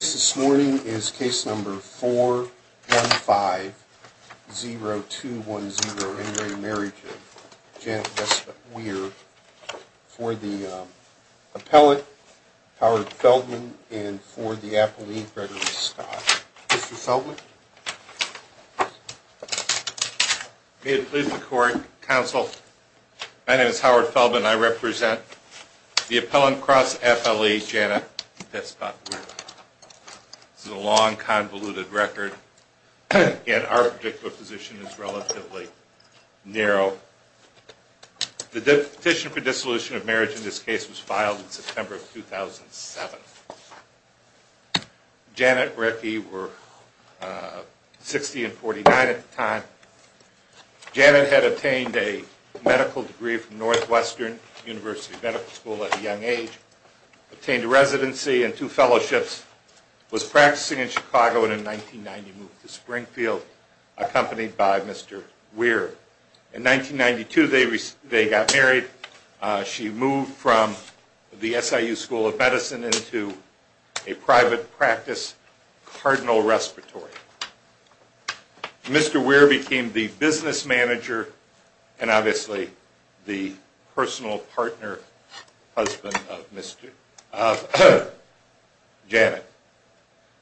This morning is case number 415-0210 in re Marriage of Janet Vespa Weir for the appellate Howard Feldman and for the appellate Gregory Scott. Mr. Feldman. May it please the court, counsel, my name is Howard Feldman and I represent the appellant cross FLE Janet Vespa Weir. This is a long convoluted record and our position is relatively narrow. The petition for dissolution of marriage in this case was filed in September of 2007. Janet and Ricky were 60 and 49 at the time. Janet had obtained a medical degree from Northwestern University Medical School at a young age, obtained a residency and two fellowships, was practicing in Chicago and in 1990 moved to Springfield accompanied by Mr. Weir. In 1992 they got married. She moved from the SIU School of Medicine into a private practice, Cardinal Respiratory. Mr. Weir became the business manager and obviously the personal partner husband of Janet.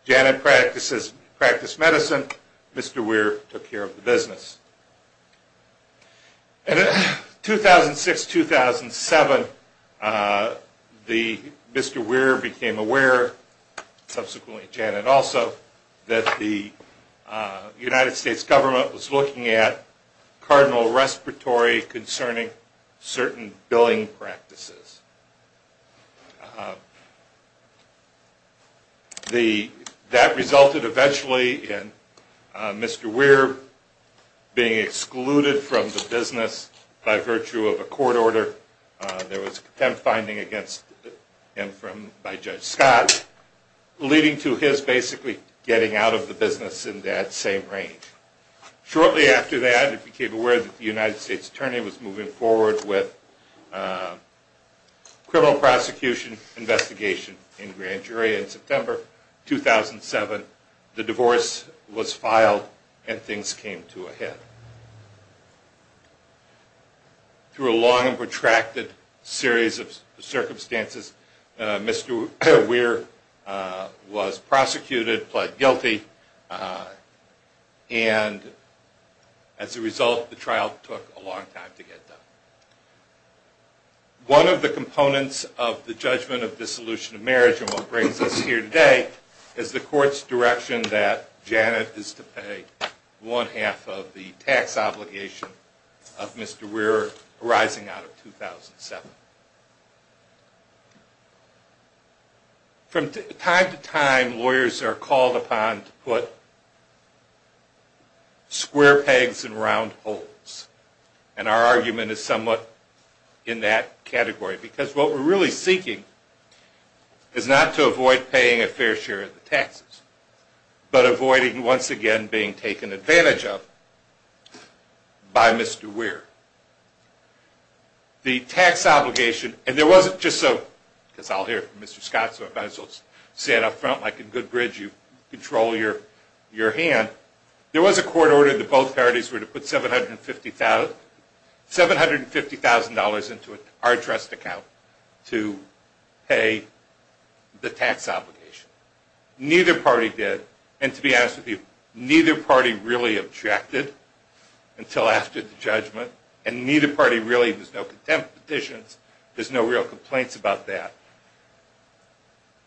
Janet practiced medicine, Mr. Weir took care of the business. In 2006-2007 Mr. Weir became aware, subsequently Janet also, that the United States government was looking at Cardinal Respiratory concerning certain billing practices. That resulted eventually in Mr. Weir being excluded from the business by virtue of a court order. There was a contempt finding against him by Judge Scott leading to his basically getting out of the business in that same range. Shortly after that he became aware that the United States Attorney was moving forward with criminal prosecution investigation in grand jury. In September 2007 the divorce was filed and things came to a head. Through a long and protracted series of circumstances Mr. Weir was prosecuted, pled guilty and as a result the trial took a long time to get done. One of the components of the judgment of dissolution of marriage and what brings us here today is the court's direction that Janet is to pay one half of the tax obligation of Mr. Weir arising out of 2007. From time to time lawyers are called upon to put square pegs in round holes and our argument is somewhat in that category because what we're really seeking is not to avoid paying a fair share of the taxes but avoiding once again being taken advantage of by Mr. Weir. The tax obligation, and there wasn't just a, because I'll hear from Mr. Scott so I might as well say it up front like a good bridge you control your hand, there was a court order that both parties were to put $750,000 into our trust account to pay the tax obligation. Neither party did and to be honest with you neither party really objected until after the judgment and neither party really, there's no contempt petitions, there's no real complaints about that.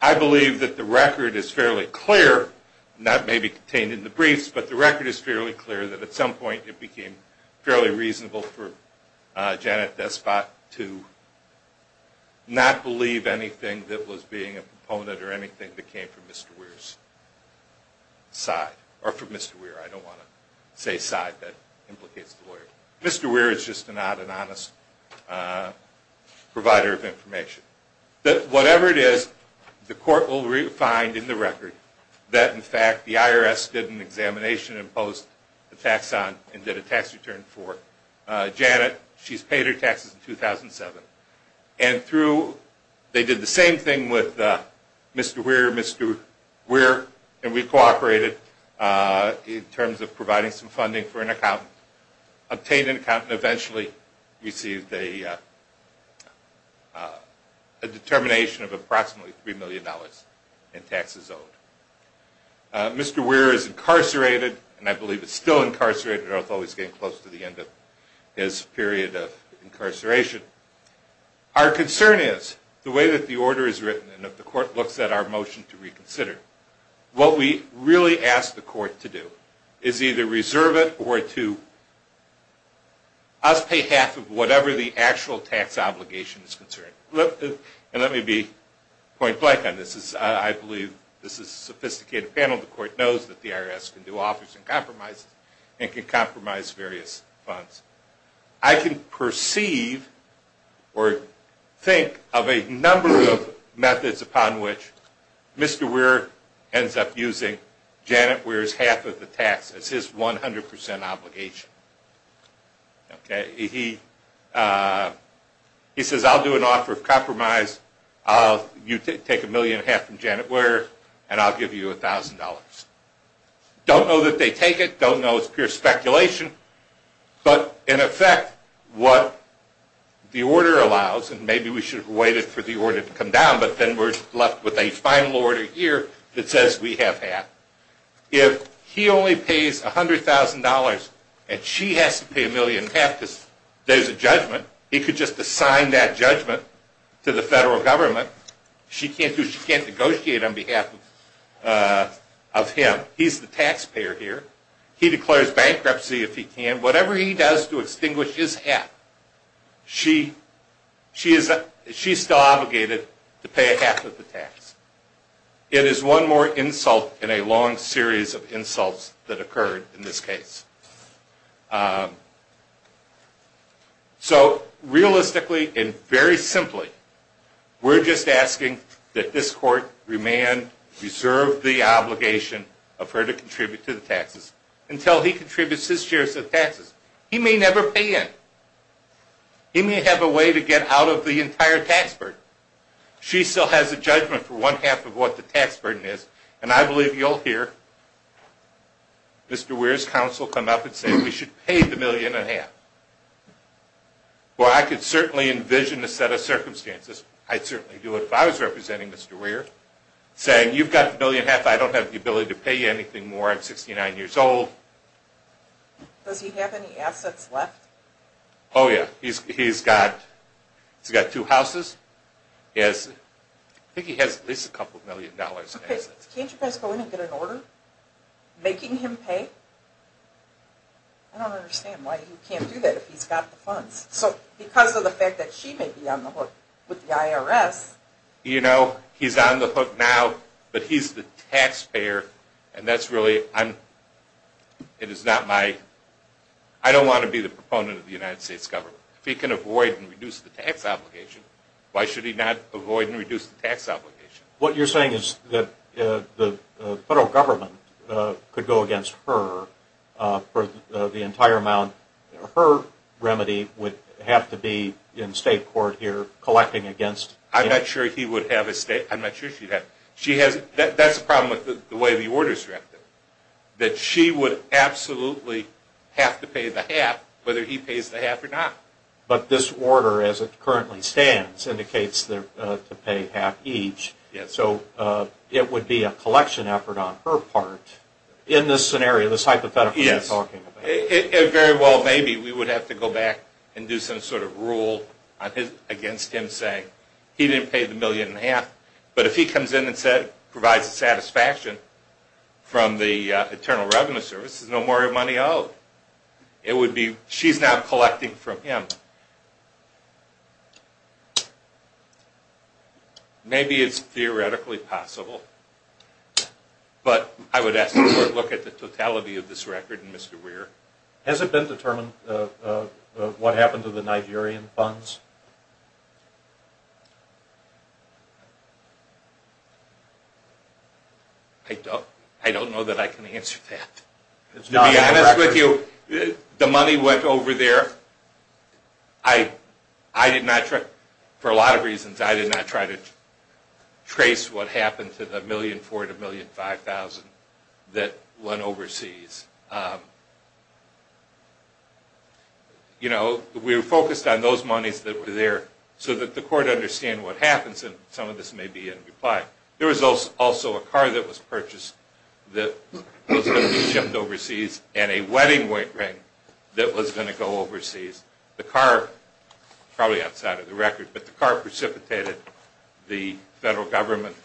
I believe that the record is fairly clear and that may be contained in the briefs but the record is fairly clear that at some point it became fairly reasonable for Janet Despot to not believe anything that was being a proponent or anything that came from Mr. Weir's side, or from Mr. Weir, I don't want to say side, that implicates the lawyer. Mr. Weir is just not an honest provider of information. But whatever it is the court will find in the record that in fact the IRS did an examination and imposed the tax on and did a tax return for Janet, she's paid her taxes in 2007. And through, they did the same thing with Mr. Weir, Mr. Weir and we cooperated in terms of providing some funding for an accountant, obtained an accountant and eventually received a determination of approximately $3 million in taxes owed. Mr. Weir is incarcerated and I believe is still incarcerated although he's getting close to the end of his period of incarceration. Our concern is the way that the order is written and if the court looks at our motion to reconsider, what we really ask the court to do is either reserve it or to us pay half of whatever the actual tax obligation is concerned. And let me be point blank on this, I believe this is a sophisticated panel, the court knows that the IRS can do offers and compromises and can compromise various funds. I can perceive or think of a number of methods upon which Mr. Weir ends up using Janet Weir's half of the tax as his 100% obligation. He says I'll do an offer of compromise, you take a million and a half from Janet Weir and I'll give you $1,000. Don't know that they take it, don't know it's pure speculation, but in effect what the order allows and maybe we should have waited for the order to come down but then we're left with a final order here that says we have half. If he only pays $100,000 and she has to pay a million and a half because there's a judgment, he could just assign that judgment to the federal government. She can't do it, she can't negotiate on behalf of him. He's the taxpayer here, he declares bankruptcy if he can, whatever he does to extinguish his half, she's still obligated to pay half of the tax. It is one more insult in a long series of insults that occurred in this case. So realistically and very simply, we're just asking that this court reserve the obligation of her to contribute to the taxes until he contributes his shares of taxes. He may never pay in. He may have a way to get out of the entire tax burden. She still has a judgment for one half of what the tax burden is and I believe you'll hear Mr. Weir's counsel come up and say we should pay the million and a half. Well I could certainly envision a set of circumstances, I'd certainly do it if I was representing Mr. Weir, saying you've got a million and a half, I don't have the ability to pay you anything more, I'm 69 years old. Does he have any assets left? Oh yeah, he's got two houses, I think he has at least a couple million dollars. Can't you guys go in and get an order making him pay? I don't understand why he can't do that if he's got the funds. So because of the fact that she may be on the hook with the IRS. You know, he's on the hook now, but he's the taxpayer and that's really, it is not my, I don't want to be the proponent of the United States government. If he can avoid and reduce the tax obligation, why should he not avoid and reduce the tax obligation? What you're saying is that the federal government could go against her for the entire amount, her remedy would have to be in state court here collecting against... I'm not sure he would have a state, I'm not sure she would have, that's the problem with the way the order is directed. That she would absolutely have to pay the half, whether he pays the half or not. But this order as it currently stands indicates to pay half each, so it would be a collection effort on her part. In this scenario, this hypothetical you're talking about. It very well may be we would have to go back and do some sort of rule against him saying he didn't pay the million and a half. But if he comes in and provides the satisfaction from the Internal Revenue Service, there's no more money owed. It would be, she's now collecting from him. Maybe it's theoretically possible, but I would ask the court to look at the totality of this record and Mr. Weir. Has it been determined what happened to the Nigerian funds? I don't know that I can answer that. To be honest with you, the money went over there. I did not, for a lot of reasons, I did not try to trace what happened to the $1,400,000 to $1,500,000 that went overseas. You know, we were focused on those monies that were there so that the court understand what happens and some of this may be in reply. There was also a car that was purchased that was going to be shipped overseas and a wedding ring that was going to go overseas. The car, probably outside of the record, but the car precipitated the federal government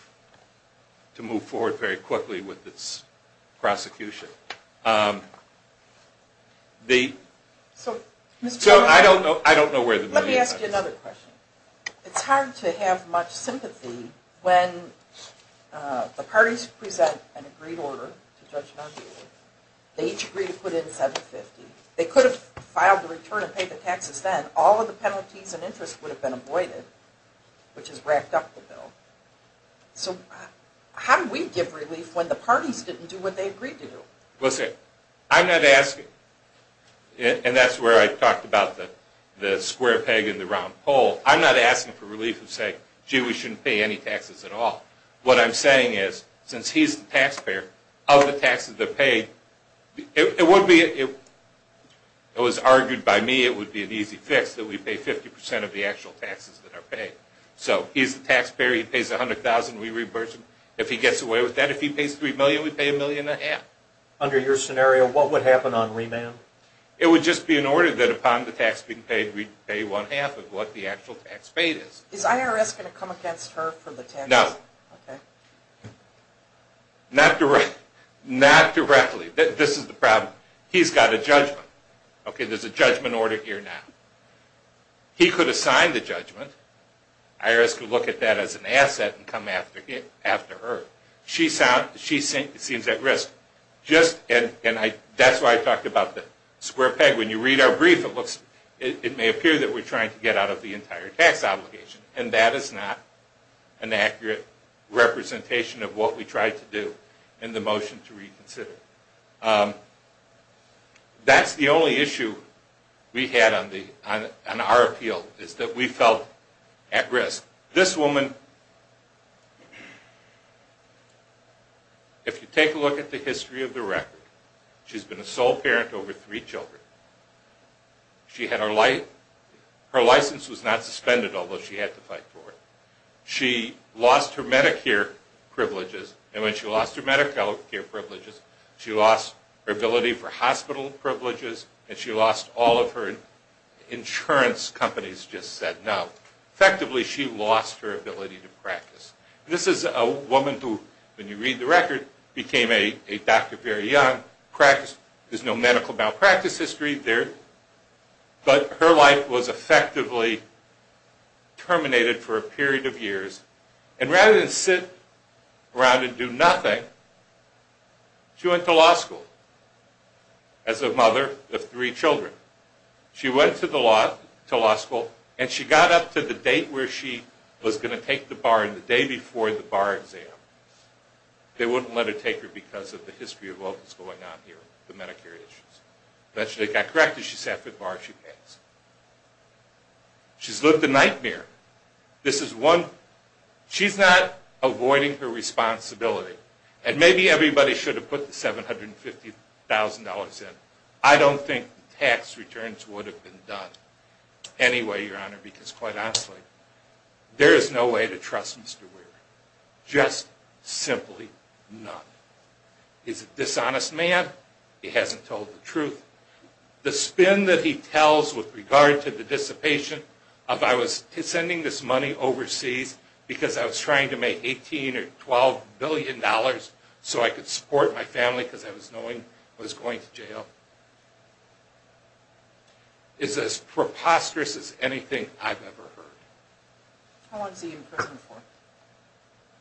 to move forward very quickly with its prosecution. So I don't know where the money went. Let me ask you another question. It's hard to have much sympathy when the parties present an agreed order to judge an argument. They each agree to put in $750,000. They could have filed a return and paid the taxes then. All of the penalties and interest would have been avoided, which has racked up the bill. So how do we give relief when the parties didn't do what they agreed to do? Listen, I'm not asking, and that's where I talked about the square peg in the round hole. I'm not asking for relief and saying, gee, we shouldn't pay any taxes at all. What I'm saying is, since he's the taxpayer, of the taxes that are paid, it would be, it was argued by me it would be an easy fix that we pay 50% of the actual taxes that are paid. So he's the taxpayer, he pays $100,000, we reimburse him. If he gets away with that, if he pays $3 million, we pay $1.5 million. Under your scenario, what would happen on remand? It would just be an order that upon the tax being paid, we pay one half of what the actual tax paid is. Is IRS going to come against her for the taxes? No. Not directly. This is the problem. He's got a judgment. Okay, there's a judgment order here now. He could assign the judgment. IRS could look at that as an asset and come after her. She seems at risk. And that's why I talked about the square peg. When you read our brief, it may appear that we're trying to get out of the entire tax obligation. And that is not an accurate representation of what we tried to do in the motion to reconsider. That's the only issue we had on our appeal, is that we felt at risk. This woman, if you take a look at the history of the record, she's been a sole parent over three children. Her license was not suspended, although she had to fight for it. She lost her Medicare privileges. And when she lost her Medicare privileges, she lost her ability for hospital privileges, and she lost all of her insurance companies just said no. Effectively, she lost her ability to practice. This is a woman who, when you read the record, became a doctor very young, practiced. There's no medical malpractice history there. But her life was effectively terminated for a period of years. And rather than sit around and do nothing, she went to law school as a mother of three children. She went to law school, and she got up to the date where she was going to take the bar, and the day before the bar exam. They wouldn't let her take it because of the history of what was going on here, the Medicare issues. But she got corrected, she sat for the bar, and she passed. She's lived a nightmare. She's not avoiding her responsibility. And maybe everybody should have put the $750,000 in. I don't think the tax returns would have been done anyway, Your Honor, because quite honestly, there is no way to trust Mr. Weir. Just simply none. He's a dishonest man. He hasn't told the truth. The spin that he tells with regard to the dissipation of, I was sending this money overseas because I was trying to make $18 or $12 billion so I could support my family because I was going to jail, is as preposterous as anything I've ever heard. How long is he in prison for?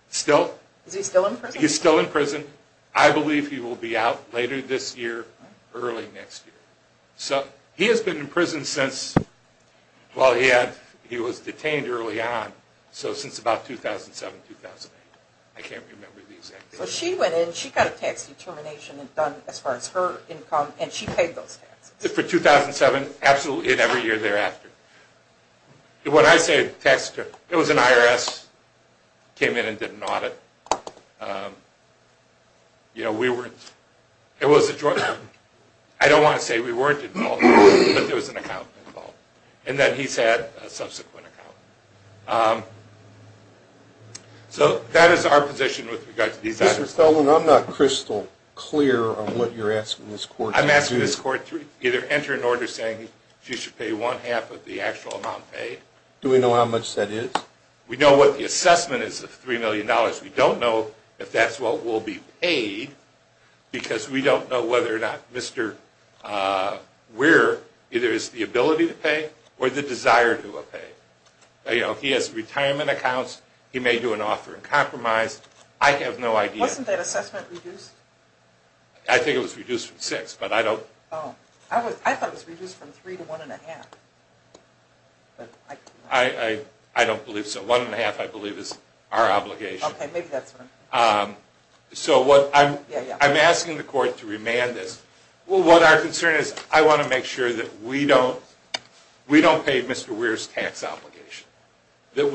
Still? Is he still in prison? He's still in prison. I believe he will be out later this year, early next year. So he has been in prison since, well, he was detained early on, so since about 2007, 2008. I can't remember the exact date. So she went in, she got a tax determination done as far as her income, and she paid those taxes. For 2007, absolutely, and every year thereafter. When I say tax determination, it was an IRS, came in and did an audit. You know, we weren't, it was a, I don't want to say we weren't involved, but there was an accountant involved. And then he's had a subsequent accountant. So that is our position with regard to these items. Mr. Stelman, I'm not crystal clear on what you're asking this court to do. I'm asking this court to either enter an order saying she should pay one-half of the actual amount paid. Do we know how much that is? We know what the assessment is of $3 million. We don't know if that's what will be paid because we don't know whether or not Mr. Weir either has the ability to pay or the desire to pay. You know, he has retirement accounts. He may do an offer in compromise. I have no idea. Wasn't that assessment reduced? I think it was reduced from six, but I don't. Oh, I thought it was reduced from three to one-and-a-half. I don't believe so. One-and-a-half, I believe, is our obligation. Okay, maybe that's right. So I'm asking the court to remand this. Well, what our concern is I want to make sure that we don't pay Mr. Weir's The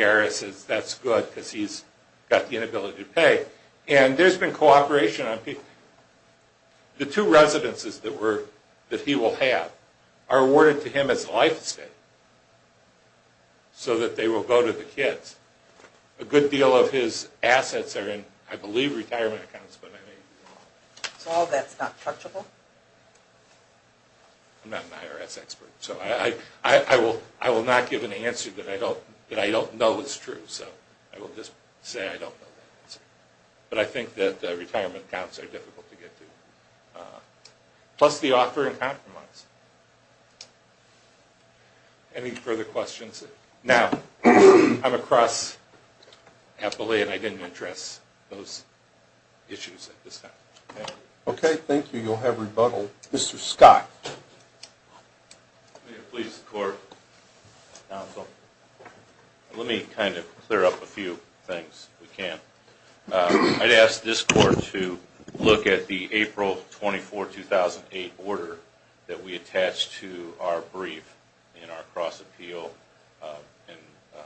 IRS says that's good because he's got the inability to pay. And there's been cooperation on people. The two residences that he will have are awarded to him as a life estate so that they will go to the kids. A good deal of his assets are in, I believe, retirement accounts. So all of that's not predictable? I'm not an IRS expert. So I will not give an answer that I don't know is true. So I will just say I don't know that answer. But I think that the retirement accounts are difficult to get to, plus the offer in compromise. Any further questions? Now, I'm across happily, and I didn't address those issues at this time. Okay, thank you. You'll have rebuttal. Thank you. Mr. Scott. May it please the court, counsel. Let me kind of clear up a few things, if we can. I'd ask this court to look at the April 24, 2008 order that we attached to our brief in our cross-appeal and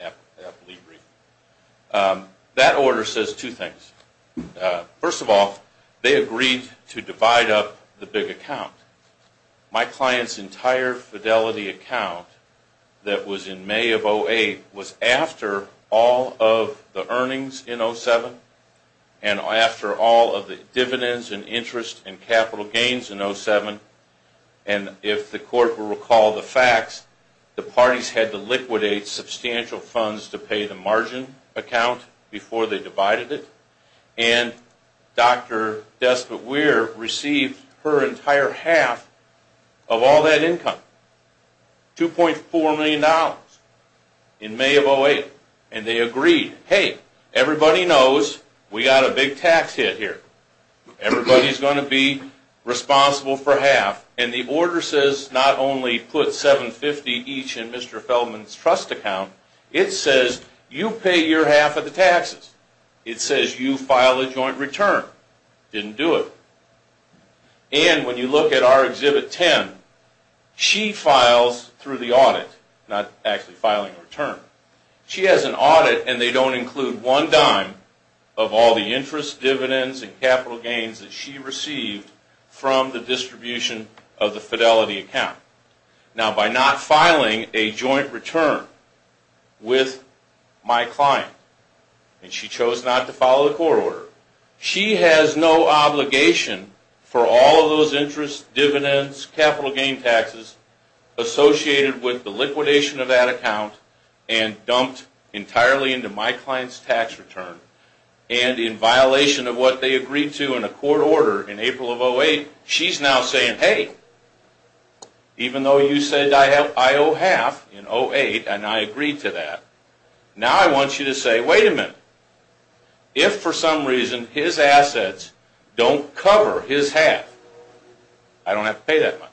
appellee brief. That order says two things. First of all, they agreed to divide up the big account. My client's entire fidelity account that was in May of 2008 was after all of the earnings in 2007 and after all of the dividends and interest and capital gains in 2007. And if the court will recall the facts, the parties had to liquidate substantial funds to pay the margin account before they divided it. And Dr. Despot Weir received her entire half of all that income, $2.4 million in May of 2008. And they agreed, hey, everybody knows we got a big tax hit here. Everybody's going to be responsible for half. And the order says not only put $750 each in Mr. Feldman's trust account, it says you pay your half of the taxes. It says you file a joint return. Didn't do it. And when you look at our Exhibit 10, she files through the audit, not actually filing a return. She has an audit, and they don't include one dime of all the interest, of the fidelity account. Now, by not filing a joint return with my client, and she chose not to file a court order, she has no obligation for all of those interest, dividends, capital gain taxes associated with the liquidation of that account and dumped entirely into my client's tax return. And in violation of what they agreed to in a court order in April of 2008, she's now saying, hey, even though you said I owe half in 2008, and I agreed to that, now I want you to say, wait a minute. If for some reason his assets don't cover his half, I don't have to pay that much.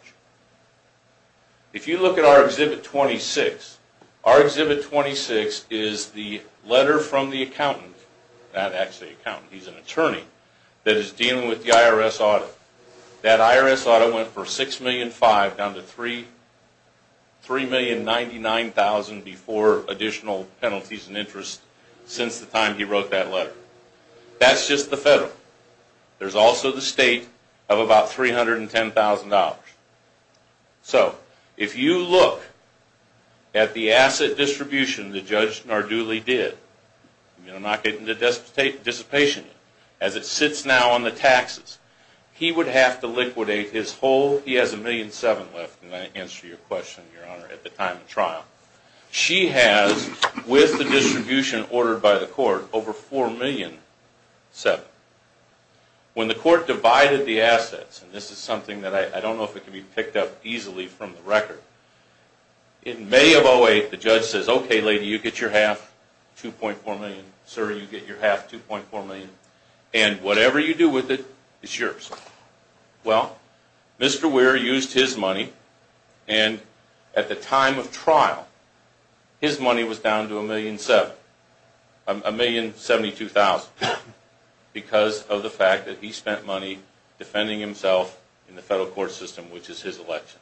If you look at our Exhibit 26, our Exhibit 26 is the letter from the accountant, not actually an accountant, he's an attorney, that is dealing with the IRS audit. That IRS audit went from $6,500,000 down to $3,099,000 before additional penalties and interest since the time he wrote that letter. That's just the federal. There's also the state of about $310,000. So if you look at the asset distribution that Judge Narduli did, and I'm not getting into dissipation, as it sits now on the taxes, he would have to liquidate his whole, he has $1,000,007 left, and I answer your question, Your Honor, at the time of trial. She has, with the distribution ordered by the court, over $4,000,007. When the court divided the assets, and this is something that I don't know if it can be picked up easily from the record, in May of 2008, the judge says, Okay, lady, you get your half, $2.4 million. Sir, you get your half, $2.4 million, and whatever you do with it, it's yours. Well, Mr. Weir used his money, and at the time of trial, his money was down to $1,072,000 because of the fact that he spent money defending himself in the federal court system, which is his election.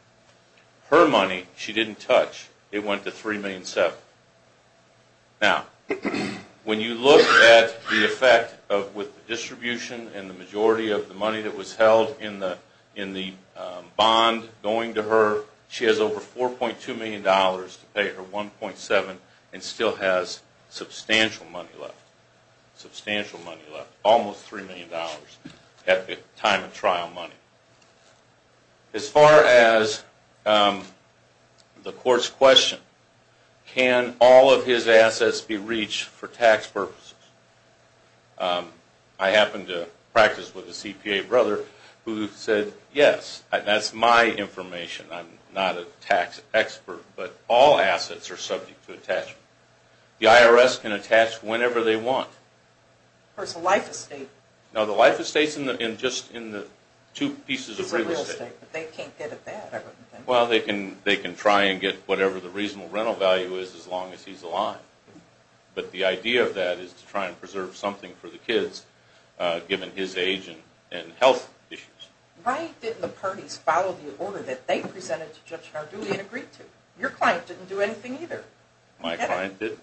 Her money, she didn't touch. It went to $3,000,007. Now, when you look at the effect with the distribution and the majority of the money that was held in the bond going to her, she has over $4,200,000 to pay her $1,700,000 and still has substantial money left, substantial money left, almost $3,000,000 at the time of trial money. As far as the court's question, can all of his assets be reached for tax purposes? I happened to practice with a CPA brother who said, Yes. That's my information. I'm not a tax expert, but all assets are subject to attachment. The IRS can attach whenever they want. Or it's a life estate. Now, the life estate is just in the two pieces of real estate. It's a real estate, but they can't get it back. Well, they can try and get whatever the reasonable rental value is as long as he's alive. But the idea of that is to try and preserve something for the kids, given his age and health issues. Why didn't the parties follow the order that they presented to Judge Nardulli and agreed to? Your client didn't do anything either. My client didn't?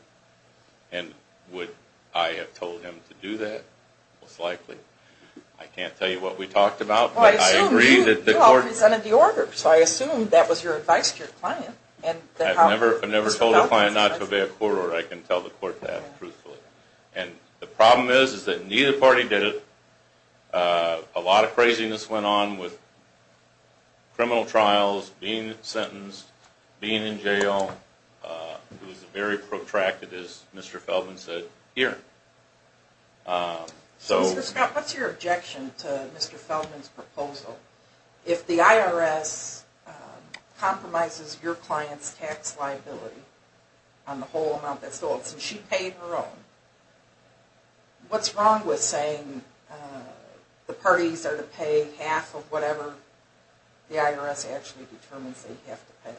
And would I have told him to do that? Most likely. I can't tell you what we talked about. Well, I assume you all presented the order, so I assume that was your advice to your client. I've never told a client not to obey a court order. I can tell the court that truthfully. And the problem is that neither party did it. A lot of craziness went on with criminal trials, being sentenced, being in jail. It was a very protracted, as Mr. Feldman said, hearing. Mr. Scott, what's your objection to Mr. Feldman's proposal? If the IRS compromises your client's tax liability on the whole amount that's going, since she paid her own, what's wrong with saying the parties are to pay half of whatever the IRS actually determines they have to pay?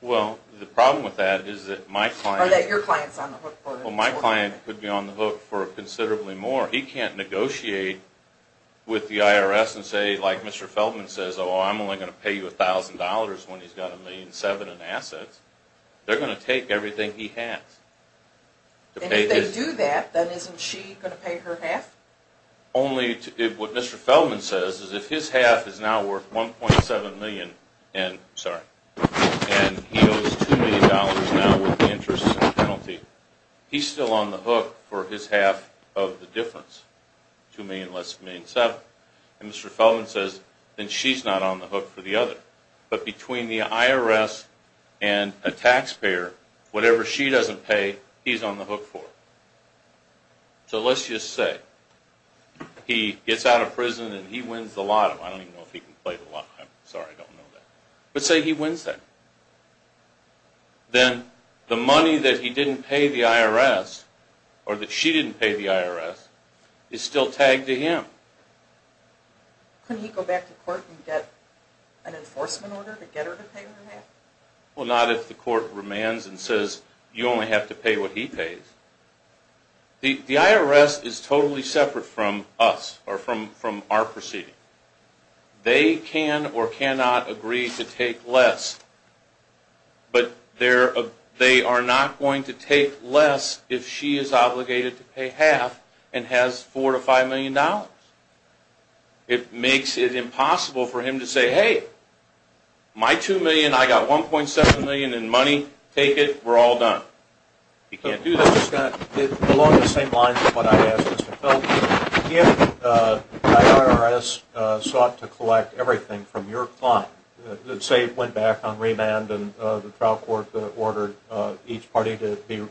Well, the problem with that is that my client could be on the hook for considerably more. He can't negotiate with the IRS and say, like Mr. Feldman says, oh, I'm only going to pay you $1,000 when he's got $1.7 million in assets. They're going to take everything he has. And if they do that, then isn't she going to pay her half? What Mr. Feldman says is if his half is now worth $1.7 million, and he owes $2 million now with the interest and penalty, he's still on the hook for his half of the difference, $2 million less than $1.7 million. And Mr. Feldman says, then she's not on the hook for the other. But between the IRS and a taxpayer, whatever she doesn't pay, he's on the hook for. So let's just say he gets out of prison and he wins the lotto. I don't even know if he can play the lotto. I'm sorry, I don't know that. But say he wins that. Then the money that he didn't pay the IRS, or that she didn't pay the IRS, is still tagged to him. Couldn't he go back to court and get an enforcement order to get her to pay her half? Well, not if the court remands and says you only have to pay what he pays. The IRS is totally separate from us, or from our proceeding. They can or cannot agree to take less, but they are not going to take less if she is obligated to pay half and has $4 to $5 million. It makes it impossible for him to say, hey, my $2 million, I've got $1.7 million in money, take it, we're all done. He can't do that. Along the same lines of what I asked Mr. Feldman, if the IRS sought to collect everything from your client, say it went back on remand and the trial court ordered each party to be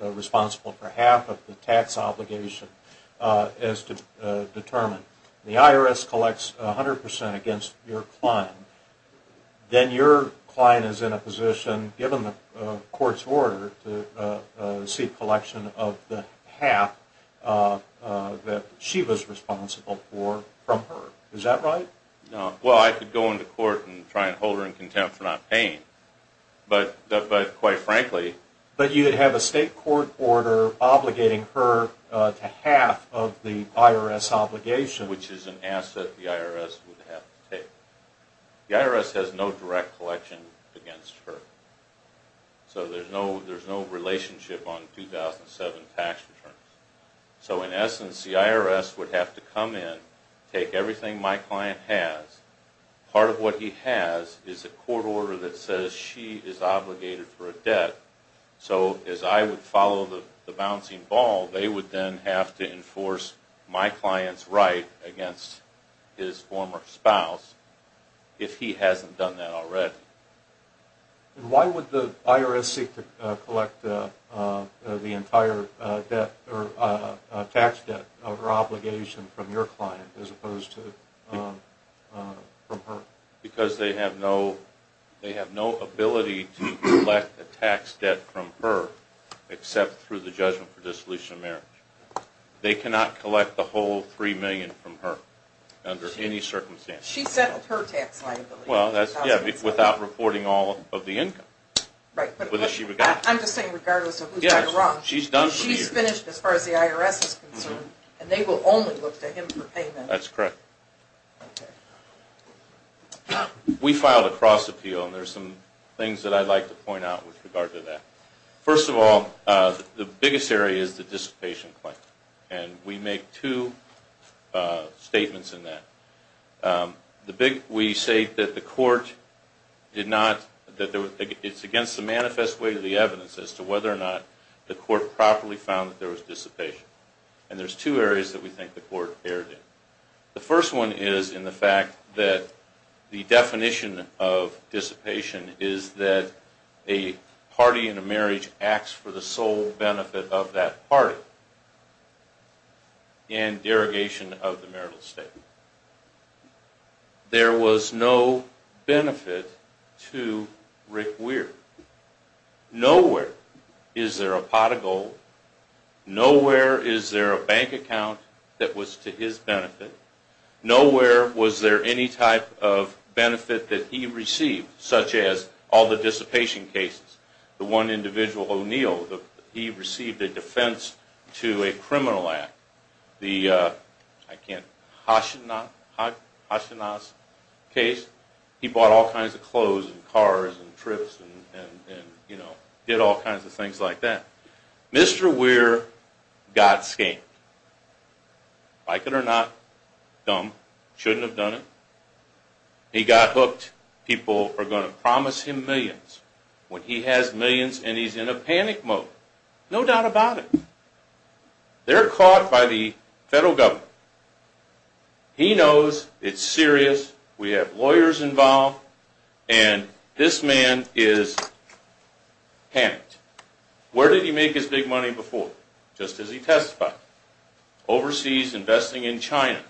responsible for half of the tax obligation as determined, the IRS collects 100% against your client, then your client is in a position, given the court's order, to seek collection of the half that she was responsible for from her. Is that right? No. Well, I could go into court and try to hold her in contempt for not paying, but quite frankly... But you would have a state court order obligating her to half of the IRS obligation. Which is an asset the IRS would have to take. The IRS has no direct collection against her. So there's no relationship on 2007 tax returns. So in essence, the IRS would have to come in, take everything my client has. Part of what he has is a court order that says she is obligated for a debt. So as I would follow the bouncing ball, they would then have to enforce my client's right against his former spouse if he hasn't done that already. Why would the IRS seek to collect the entire tax debt of her obligation from your client as opposed to from her? Because they have no ability to collect the tax debt from her except through the judgment for dissolution of marriage. They cannot collect the whole $3 million from her under any circumstance. She settled her tax liability. Yeah, without reporting all of the income. I'm just saying regardless of who's right or wrong. She's finished as far as the IRS is concerned. And they will only look to him for payment. That's correct. We filed a cross appeal. And there's some things that I'd like to point out with regard to that. First of all, the biggest area is the dissipation claim. And we make two statements in that. We say that the court did not, it's against the manifest way of the evidence as to whether or not the court properly found that there was dissipation. And there's two areas that we think the court erred in. The first one is in the fact that the definition of dissipation is that a party in a marriage acts for the sole benefit of that party in derogation of the marital statement. There was no benefit to Rick Weir. Nowhere is there a pot of gold. Nowhere is there a bank account that was to his benefit. Nowhere was there any type of benefit that he received, such as all the dissipation cases. The one individual, O'Neill, he received a defense to a criminal act. The Hashinas case, he bought all kinds of clothes and cars and trips and did all kinds of things like that. Mr. Weir got scammed. Like it or not, dumb, shouldn't have done it. He got hooked. People are going to promise him millions when he has millions and he's in a panic mode. No doubt about it. They're caught by the federal government. He knows it's serious. We have lawyers involved, and this man is panicked. Where did he make his big money before? Just as he testified. Overseas, investing in China.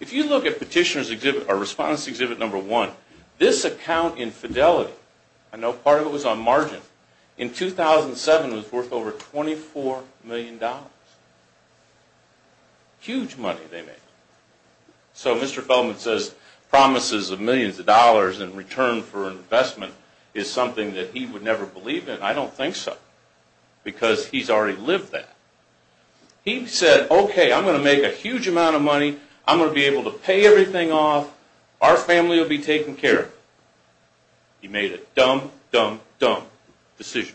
If you look at Petitioner's exhibit, or Respondents' Exhibit No. 1, this account infidelity, I know part of it was on margin, in 2007 was worth over $24 million. Huge money they made. So Mr. Feldman says promises of millions of dollars in return for investment is something that he would never believe in. I don't think so, because he's already lived that. He said, okay, I'm going to make a huge amount of money. I'm going to be able to pay everything off. Our family will be taken care of. He made a dumb, dumb, dumb decision.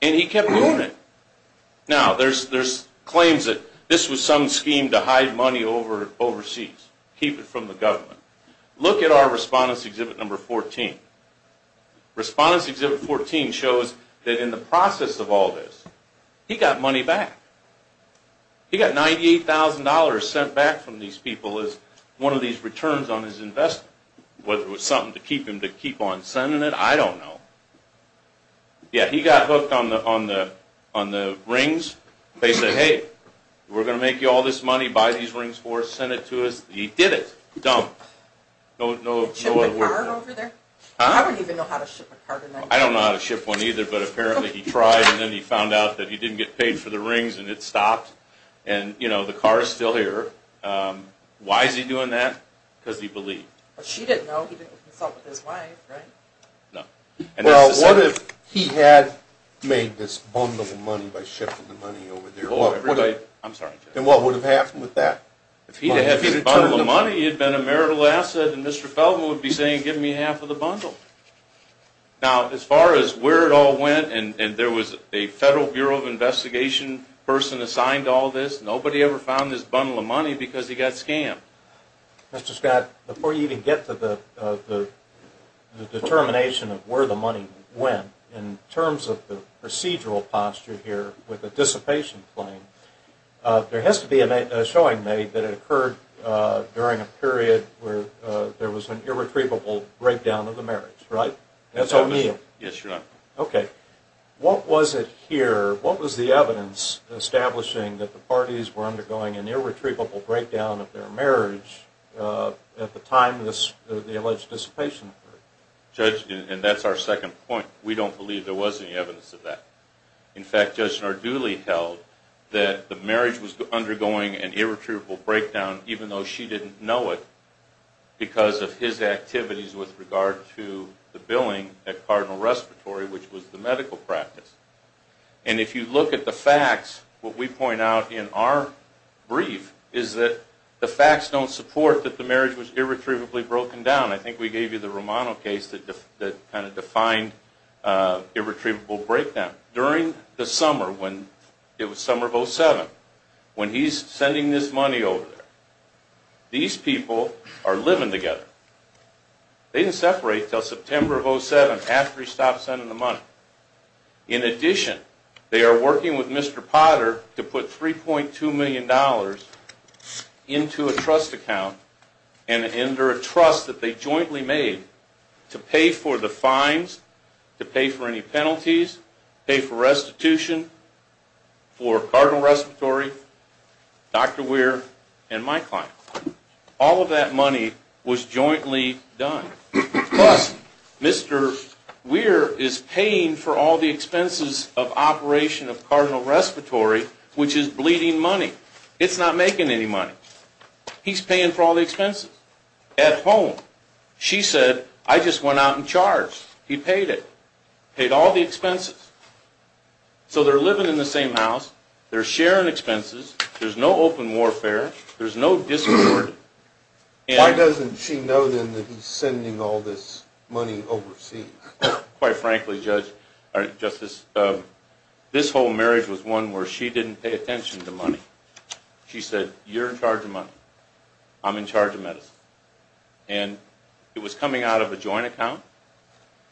And he kept doing it. Now, there's claims that this was some scheme to hide money overseas, keep it from the government. Look at our Respondents' Exhibit No. 14. Respondents' Exhibit 14 shows that in the process of all this, he got money back. He got $98,000 sent back from these people as one of these returns on his investment, whether it was something to keep him to keep on sending it, I don't know. Yeah, he got hooked on the rings. They said, hey, we're going to make you all this money. Buy these rings for us. Send it to us. He did it. Dumped. He shipped a card over there? I don't even know how to ship a card. I don't know how to ship one either, but apparently he tried, and then he found out that he didn't get paid for the rings, and it stopped. And, you know, the car is still here. Why is he doing that? Because he believed. But she didn't know. He didn't consult with his wife, right? No. Well, what if he had made this bundle of money by shipping the money over there? I'm sorry. And what would have happened with that? If he had made this bundle of money, it would have been a marital asset, and Mr. Feldman would be saying, give me half of the bundle. Now, as far as where it all went, and there was a Federal Bureau of Investigation person assigned to all this, nobody ever found this bundle of money because he got scammed. Mr. Scott, before you even get to the determination of where the money went, in terms of the procedural posture here with the dissipation claim, there has to be a showing made that it occurred during a period where there was an irretrievable breakdown of the marriage, right? That's what I mean. Yes, Your Honor. Okay. What was it here? What was the evidence establishing that the parties were undergoing an irretrievable breakdown of their marriage at the time the alleged dissipation occurred? Judge, and that's our second point. We don't believe there was any evidence of that. In fact, Judge Snarduli held that the marriage was undergoing an irretrievable breakdown, even though she didn't know it, because of his activities with regard to the billing at Cardinal Respiratory, which was the medical practice. And if you look at the facts, what we point out in our brief is that the facts don't support that the marriage was irretrievably broken down. I think we gave you the Romano case that kind of defined irretrievable breakdown. During the summer, when it was summer of 07, when he's sending this money over there, these people are living together. They didn't separate until September of 07, after he stopped sending the money. In addition, they are working with Mr. Potter to put $3.2 million into a trust account and enter a trust that they jointly made to pay for the fines, to pay for any penalties, pay for restitution for Cardinal Respiratory, Dr. Weir, and my client. All of that money was jointly done. Plus, Mr. Weir is paying for all the expenses of operation of Cardinal Respiratory, which is bleeding money. It's not making any money. He's paying for all the expenses at home. She said, I just went out and charged. He paid it. Paid all the expenses. So they're living in the same house. They're sharing expenses. There's no open warfare. There's no discord. Why doesn't she know then that he's sending all this money overseas? Quite frankly, Justice, this whole marriage was one where she didn't pay attention to money. She said, you're in charge of money. I'm in charge of medicine. And it was coming out of a joint account,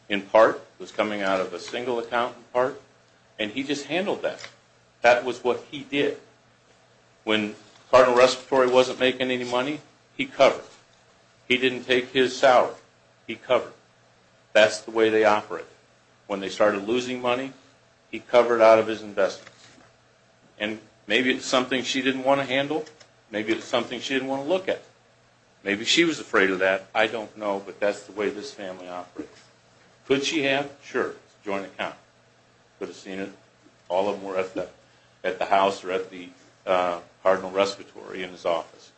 in part. It was coming out of a single account, in part. And he just handled that. That was what he did. When Cardinal Respiratory wasn't making any money, he covered. He didn't take his salary. He covered. That's the way they operate. When they started losing money, he covered out of his investments. And maybe it's something she didn't want to handle. Maybe it's something she didn't want to look at. Maybe she was afraid of that. I don't know, but that's the way this family operates. Could she have? Sure. It's a joint account. Could have seen it. All of them were at the house, or at the Cardinal Respiratory, in his office.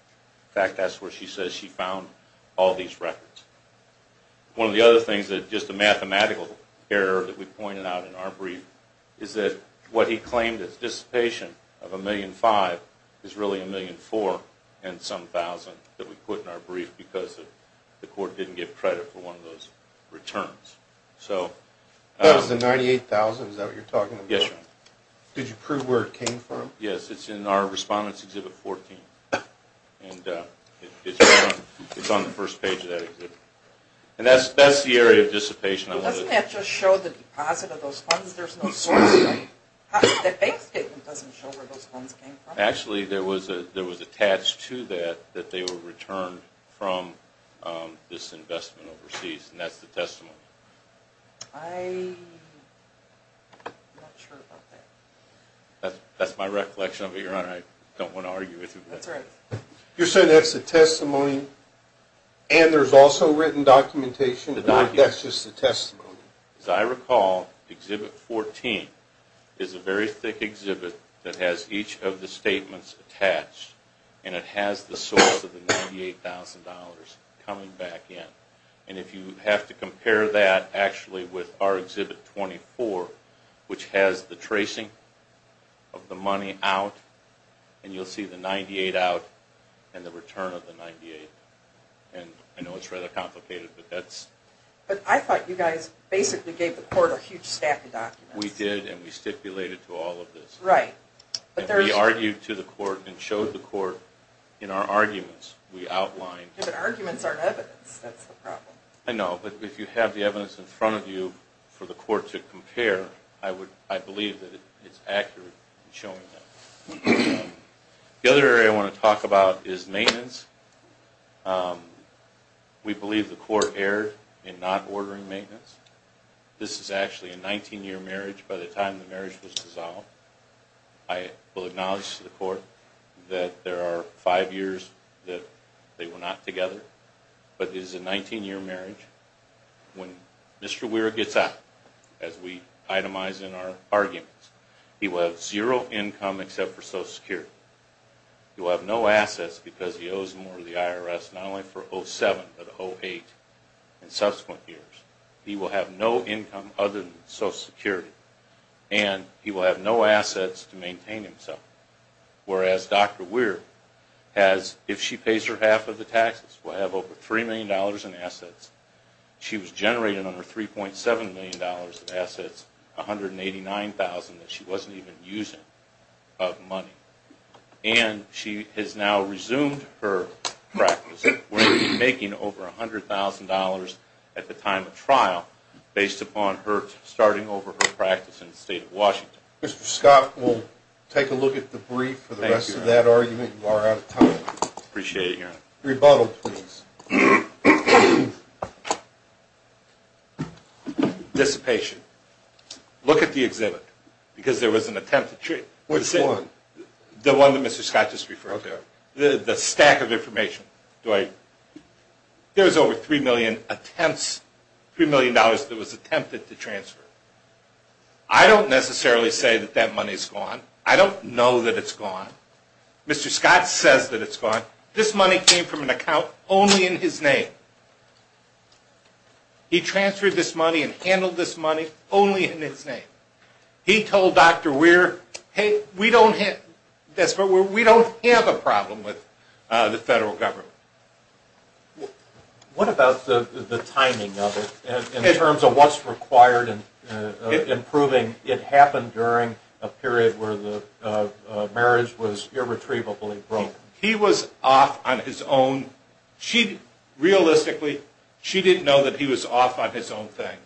In fact, that's where she says she found all these records. One of the other things, just a mathematical error that we pointed out in our brief, is that what he claimed as dissipation of $1,500,000 is really $1,400,000 and some thousand that we put in our brief because the court didn't give credit for one of those returns. That was the $98,000? Is that what you're talking about? Yes, Your Honor. Did you prove where it came from? Yes, it's in our Respondents' Exhibit 14. And it's on the first page of that exhibit. And that's the area of dissipation. Doesn't that just show the deposit of those funds? There's no source, right? The bank statement doesn't show where those funds came from. Actually, there was attached to that that they were returned from this investment overseas, and that's the testimony. I'm not sure about that. That's my recollection of it, Your Honor. I don't want to argue with you. That's right. You're saying that's the testimony and there's also written documentation. That's just the testimony. As I recall, Exhibit 14 is a very thick exhibit that has each of the statements attached, and it has the source of the $98,000 coming back in. And if you have to compare that actually with our Exhibit 24, which has the tracing of the money out, and you'll see the $98,000 out and the return of the $98,000. And I know it's rather complicated, but that's... But I thought you guys basically gave the Court a huge stack of documents. We did, and we stipulated to all of this. Right. And we argued to the Court and showed the Court in our arguments, we outlined... But arguments aren't evidence. That's the problem. I know. But if you have the evidence in front of you for the Court to compare, I believe that it's accurate in showing that. The other area I want to talk about is maintenance. We believe the Court erred in not ordering maintenance. This is actually a 19-year marriage. By the time the marriage was dissolved, I will acknowledge to the Court that there are five years that they were not together. But this is a 19-year marriage. When Mr. Weir gets out, as we itemized in our arguments, he will have zero income except for Social Security. He will have no assets because he owes more to the IRS, not only for 2007 but 2008 and subsequent years. He will have no income other than Social Security, and he will have no assets to maintain himself. Whereas Dr. Weir has, if she pays her half of the taxes, will have over $3 million in assets. She was generating under $3.7 million in assets, $189,000 that she wasn't even using of money. And she has now resumed her practice. We're going to be making over $100,000 at the time of trial based upon her starting over her practice in the State of Washington. Mr. Scott, we'll take a look at the brief for the rest of that argument. You are out of time. Appreciate it, Your Honor. Rebuttal, please. Dissipation. Look at the exhibit because there was an attempt to transfer. Which one? The one that Mr. Scott just referred to. Okay. The stack of information. There was over $3 million that was attempted to transfer. I don't necessarily say that that money is gone. I don't know that it's gone. Mr. Scott says that it's gone. This money came from an account only in his name. He transferred this money and handled this money only in his name. He told Dr. Weir, hey, we don't have a problem with the federal government. What about the timing of it in terms of what's required in proving it happened during a period where the marriage was irretrievably broke? He was off on his own. Realistically, she didn't know that he was off on his own thing.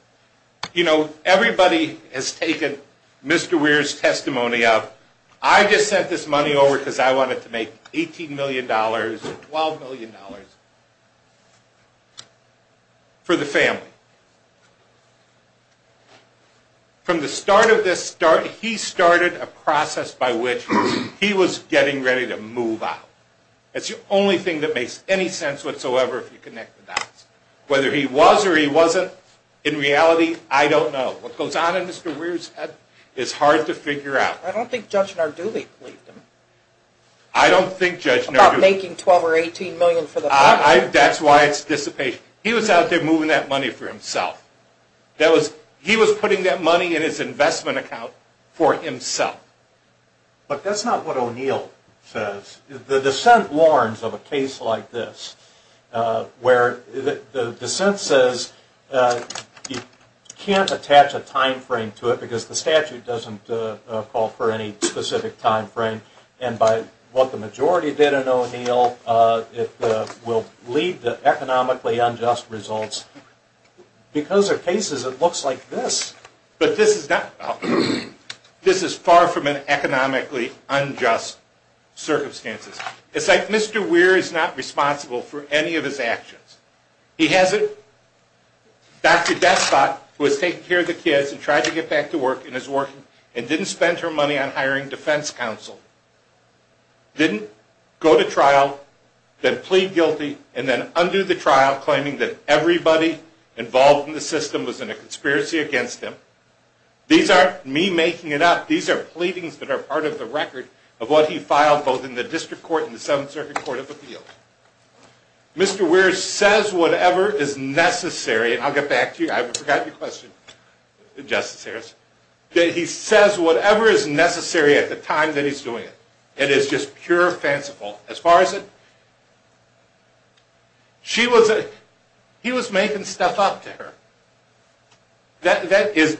You know, everybody has taken Mr. Weir's testimony up. I just sent this money over because I wanted to make $18 million or $12 million for the family. From the start of this, he started a process by which he was getting ready to move out. That's the only thing that makes any sense whatsoever if you connect the dots. Whether he was or he wasn't, in reality, I don't know. What goes on in Mr. Weir's head is hard to figure out. I don't think Judge Narduli believed him. I don't think Judge Narduli... About making $12 or $18 million for the family. That's why it's dissipation. He was out there moving that money for himself. He was putting that money in his investment account for himself. But that's not what O'Neill says. The dissent warns of a case like this where the dissent says you can't attach a time frame to it because the statute doesn't call for any specific time frame. And by what the majority did in O'Neill, it will lead to economically unjust results. Because of cases, it looks like this. But this is not... This is far from an economically unjust circumstances. It's like Mr. Weir is not responsible for any of his actions. He has Dr. Despot who has taken care of the kids and tried to get back to work and didn't spend her money on hiring defense counsel. Didn't go to trial, then plead guilty, and then undo the trial claiming that everybody involved in the system was in a conspiracy against him. These aren't me making it up. These are pleadings that are part of the record of what he filed Mr. Weir says whatever is necessary, and I'll get back to you. I forgot your question, Justice Harris. That he says whatever is necessary at the time that he's doing it. It is just pure fanciful. As far as it... She was... He was making stuff up to her. Is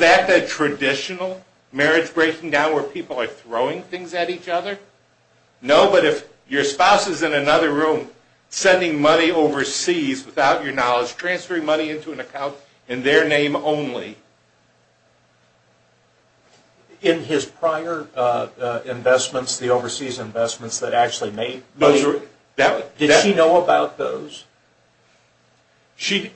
that the traditional marriage breaking down where people are throwing things at each other? No, but if your spouse is in another room sending money overseas without your knowledge, transferring money into an account in their name only... In his prior investments, the overseas investments that actually made... Did she know about those? She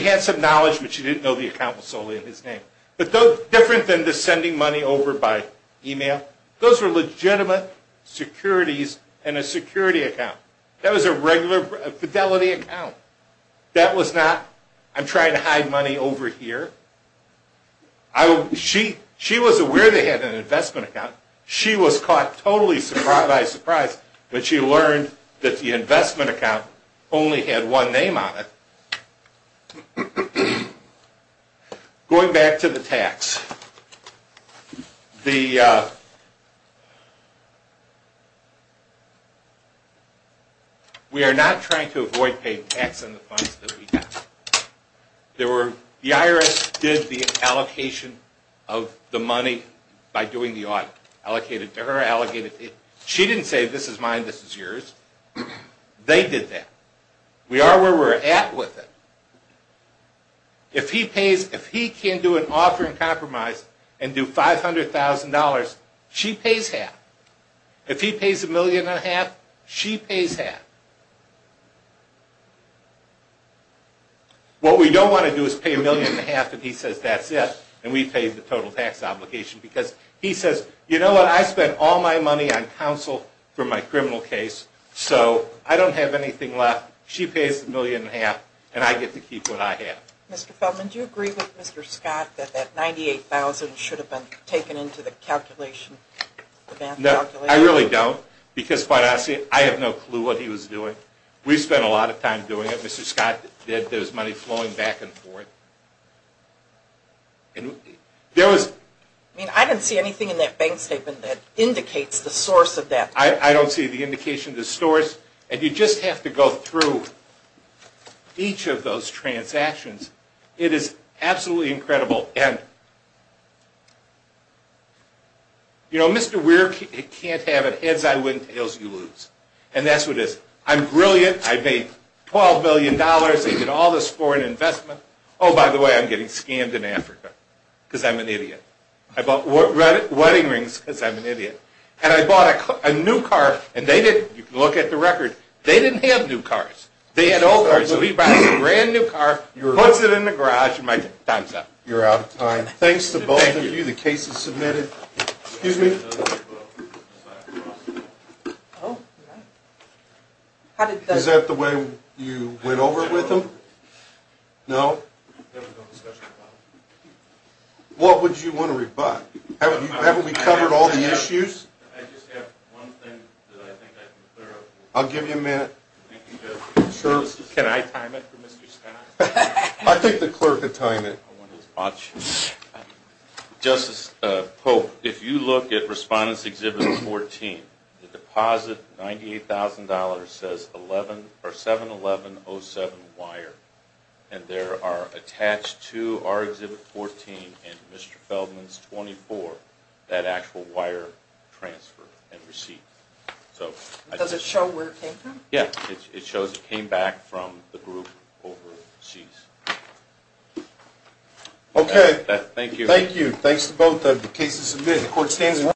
had some knowledge, but she didn't know the account was solely in his name. Different than the sending money over by email. Those were legitimate securities in a security account. That was a regular fidelity account. That was not, I'm trying to hide money over here. She was aware they had an investment account. She was caught totally by surprise when she learned that the investment account only had one name on it. Going back to the tax. The... We are not trying to avoid paying tax on the funds that we have. The IRS did the allocation of the money by doing the audit. Allocated to her, allocated to... She didn't say this is mine, this is yours. They did that. We are where we're at with it. If he pays, if he can do an offer in compromise and do $500,000, she pays half. If he pays a million and a half, she pays half. What we don't want to do is pay a million and a half and he says that's it, and we pay the total tax obligation because he says, you know what, I spent all my money on counsel for my criminal case, so I don't have anything left. She pays the million and a half and I get to keep what I have. Mr. Feldman, do you agree with Mr. Scott that that $98,000 should have been taken into the calculation? No, I really don't because, quite honestly, I have no clue what he was doing. We spent a lot of time doing it. Mr. Scott did. There's money flowing back and forth. And there was... I mean, I didn't see anything in that bank statement that indicates the source of that. I don't see the indication of the source. And you just have to go through each of those transactions. It is absolutely incredible. And, you know, Mr. Weir can't have it heads, I win, tails, you lose. And that's what it is. I'm brilliant. I made $12 billion. I did all this foreign investment. Oh, by the way, I'm getting scammed in Africa because I'm an idiot. I bought wedding rings because I'm an idiot. And I bought a new car, and they didn't, you can look at the record, they didn't have new cars. They had old cars. So he buys a brand new car, puts it in the garage, and my time's up. You're out of time. Thanks to both of you. The case is submitted. Excuse me? Is that the way you went over it with him? No? What would you want to rebut? Haven't we covered all the issues? I'll give you a minute. Can I time it for Mr. Scott? I think the clerk can time it. Justice Pope, if you look at Respondents Exhibit 14, the deposit, $98,000, says 7-11-07 Weir. And there are attached to our Exhibit 14 and Mr. Feldman's 24, that actual Weir transfer and receipt. Does it show where it came from? Yeah. It shows it came back from the group overseas. Okay. Thank you. Thank you. Thanks to both of you. The case is submitted. The court stands.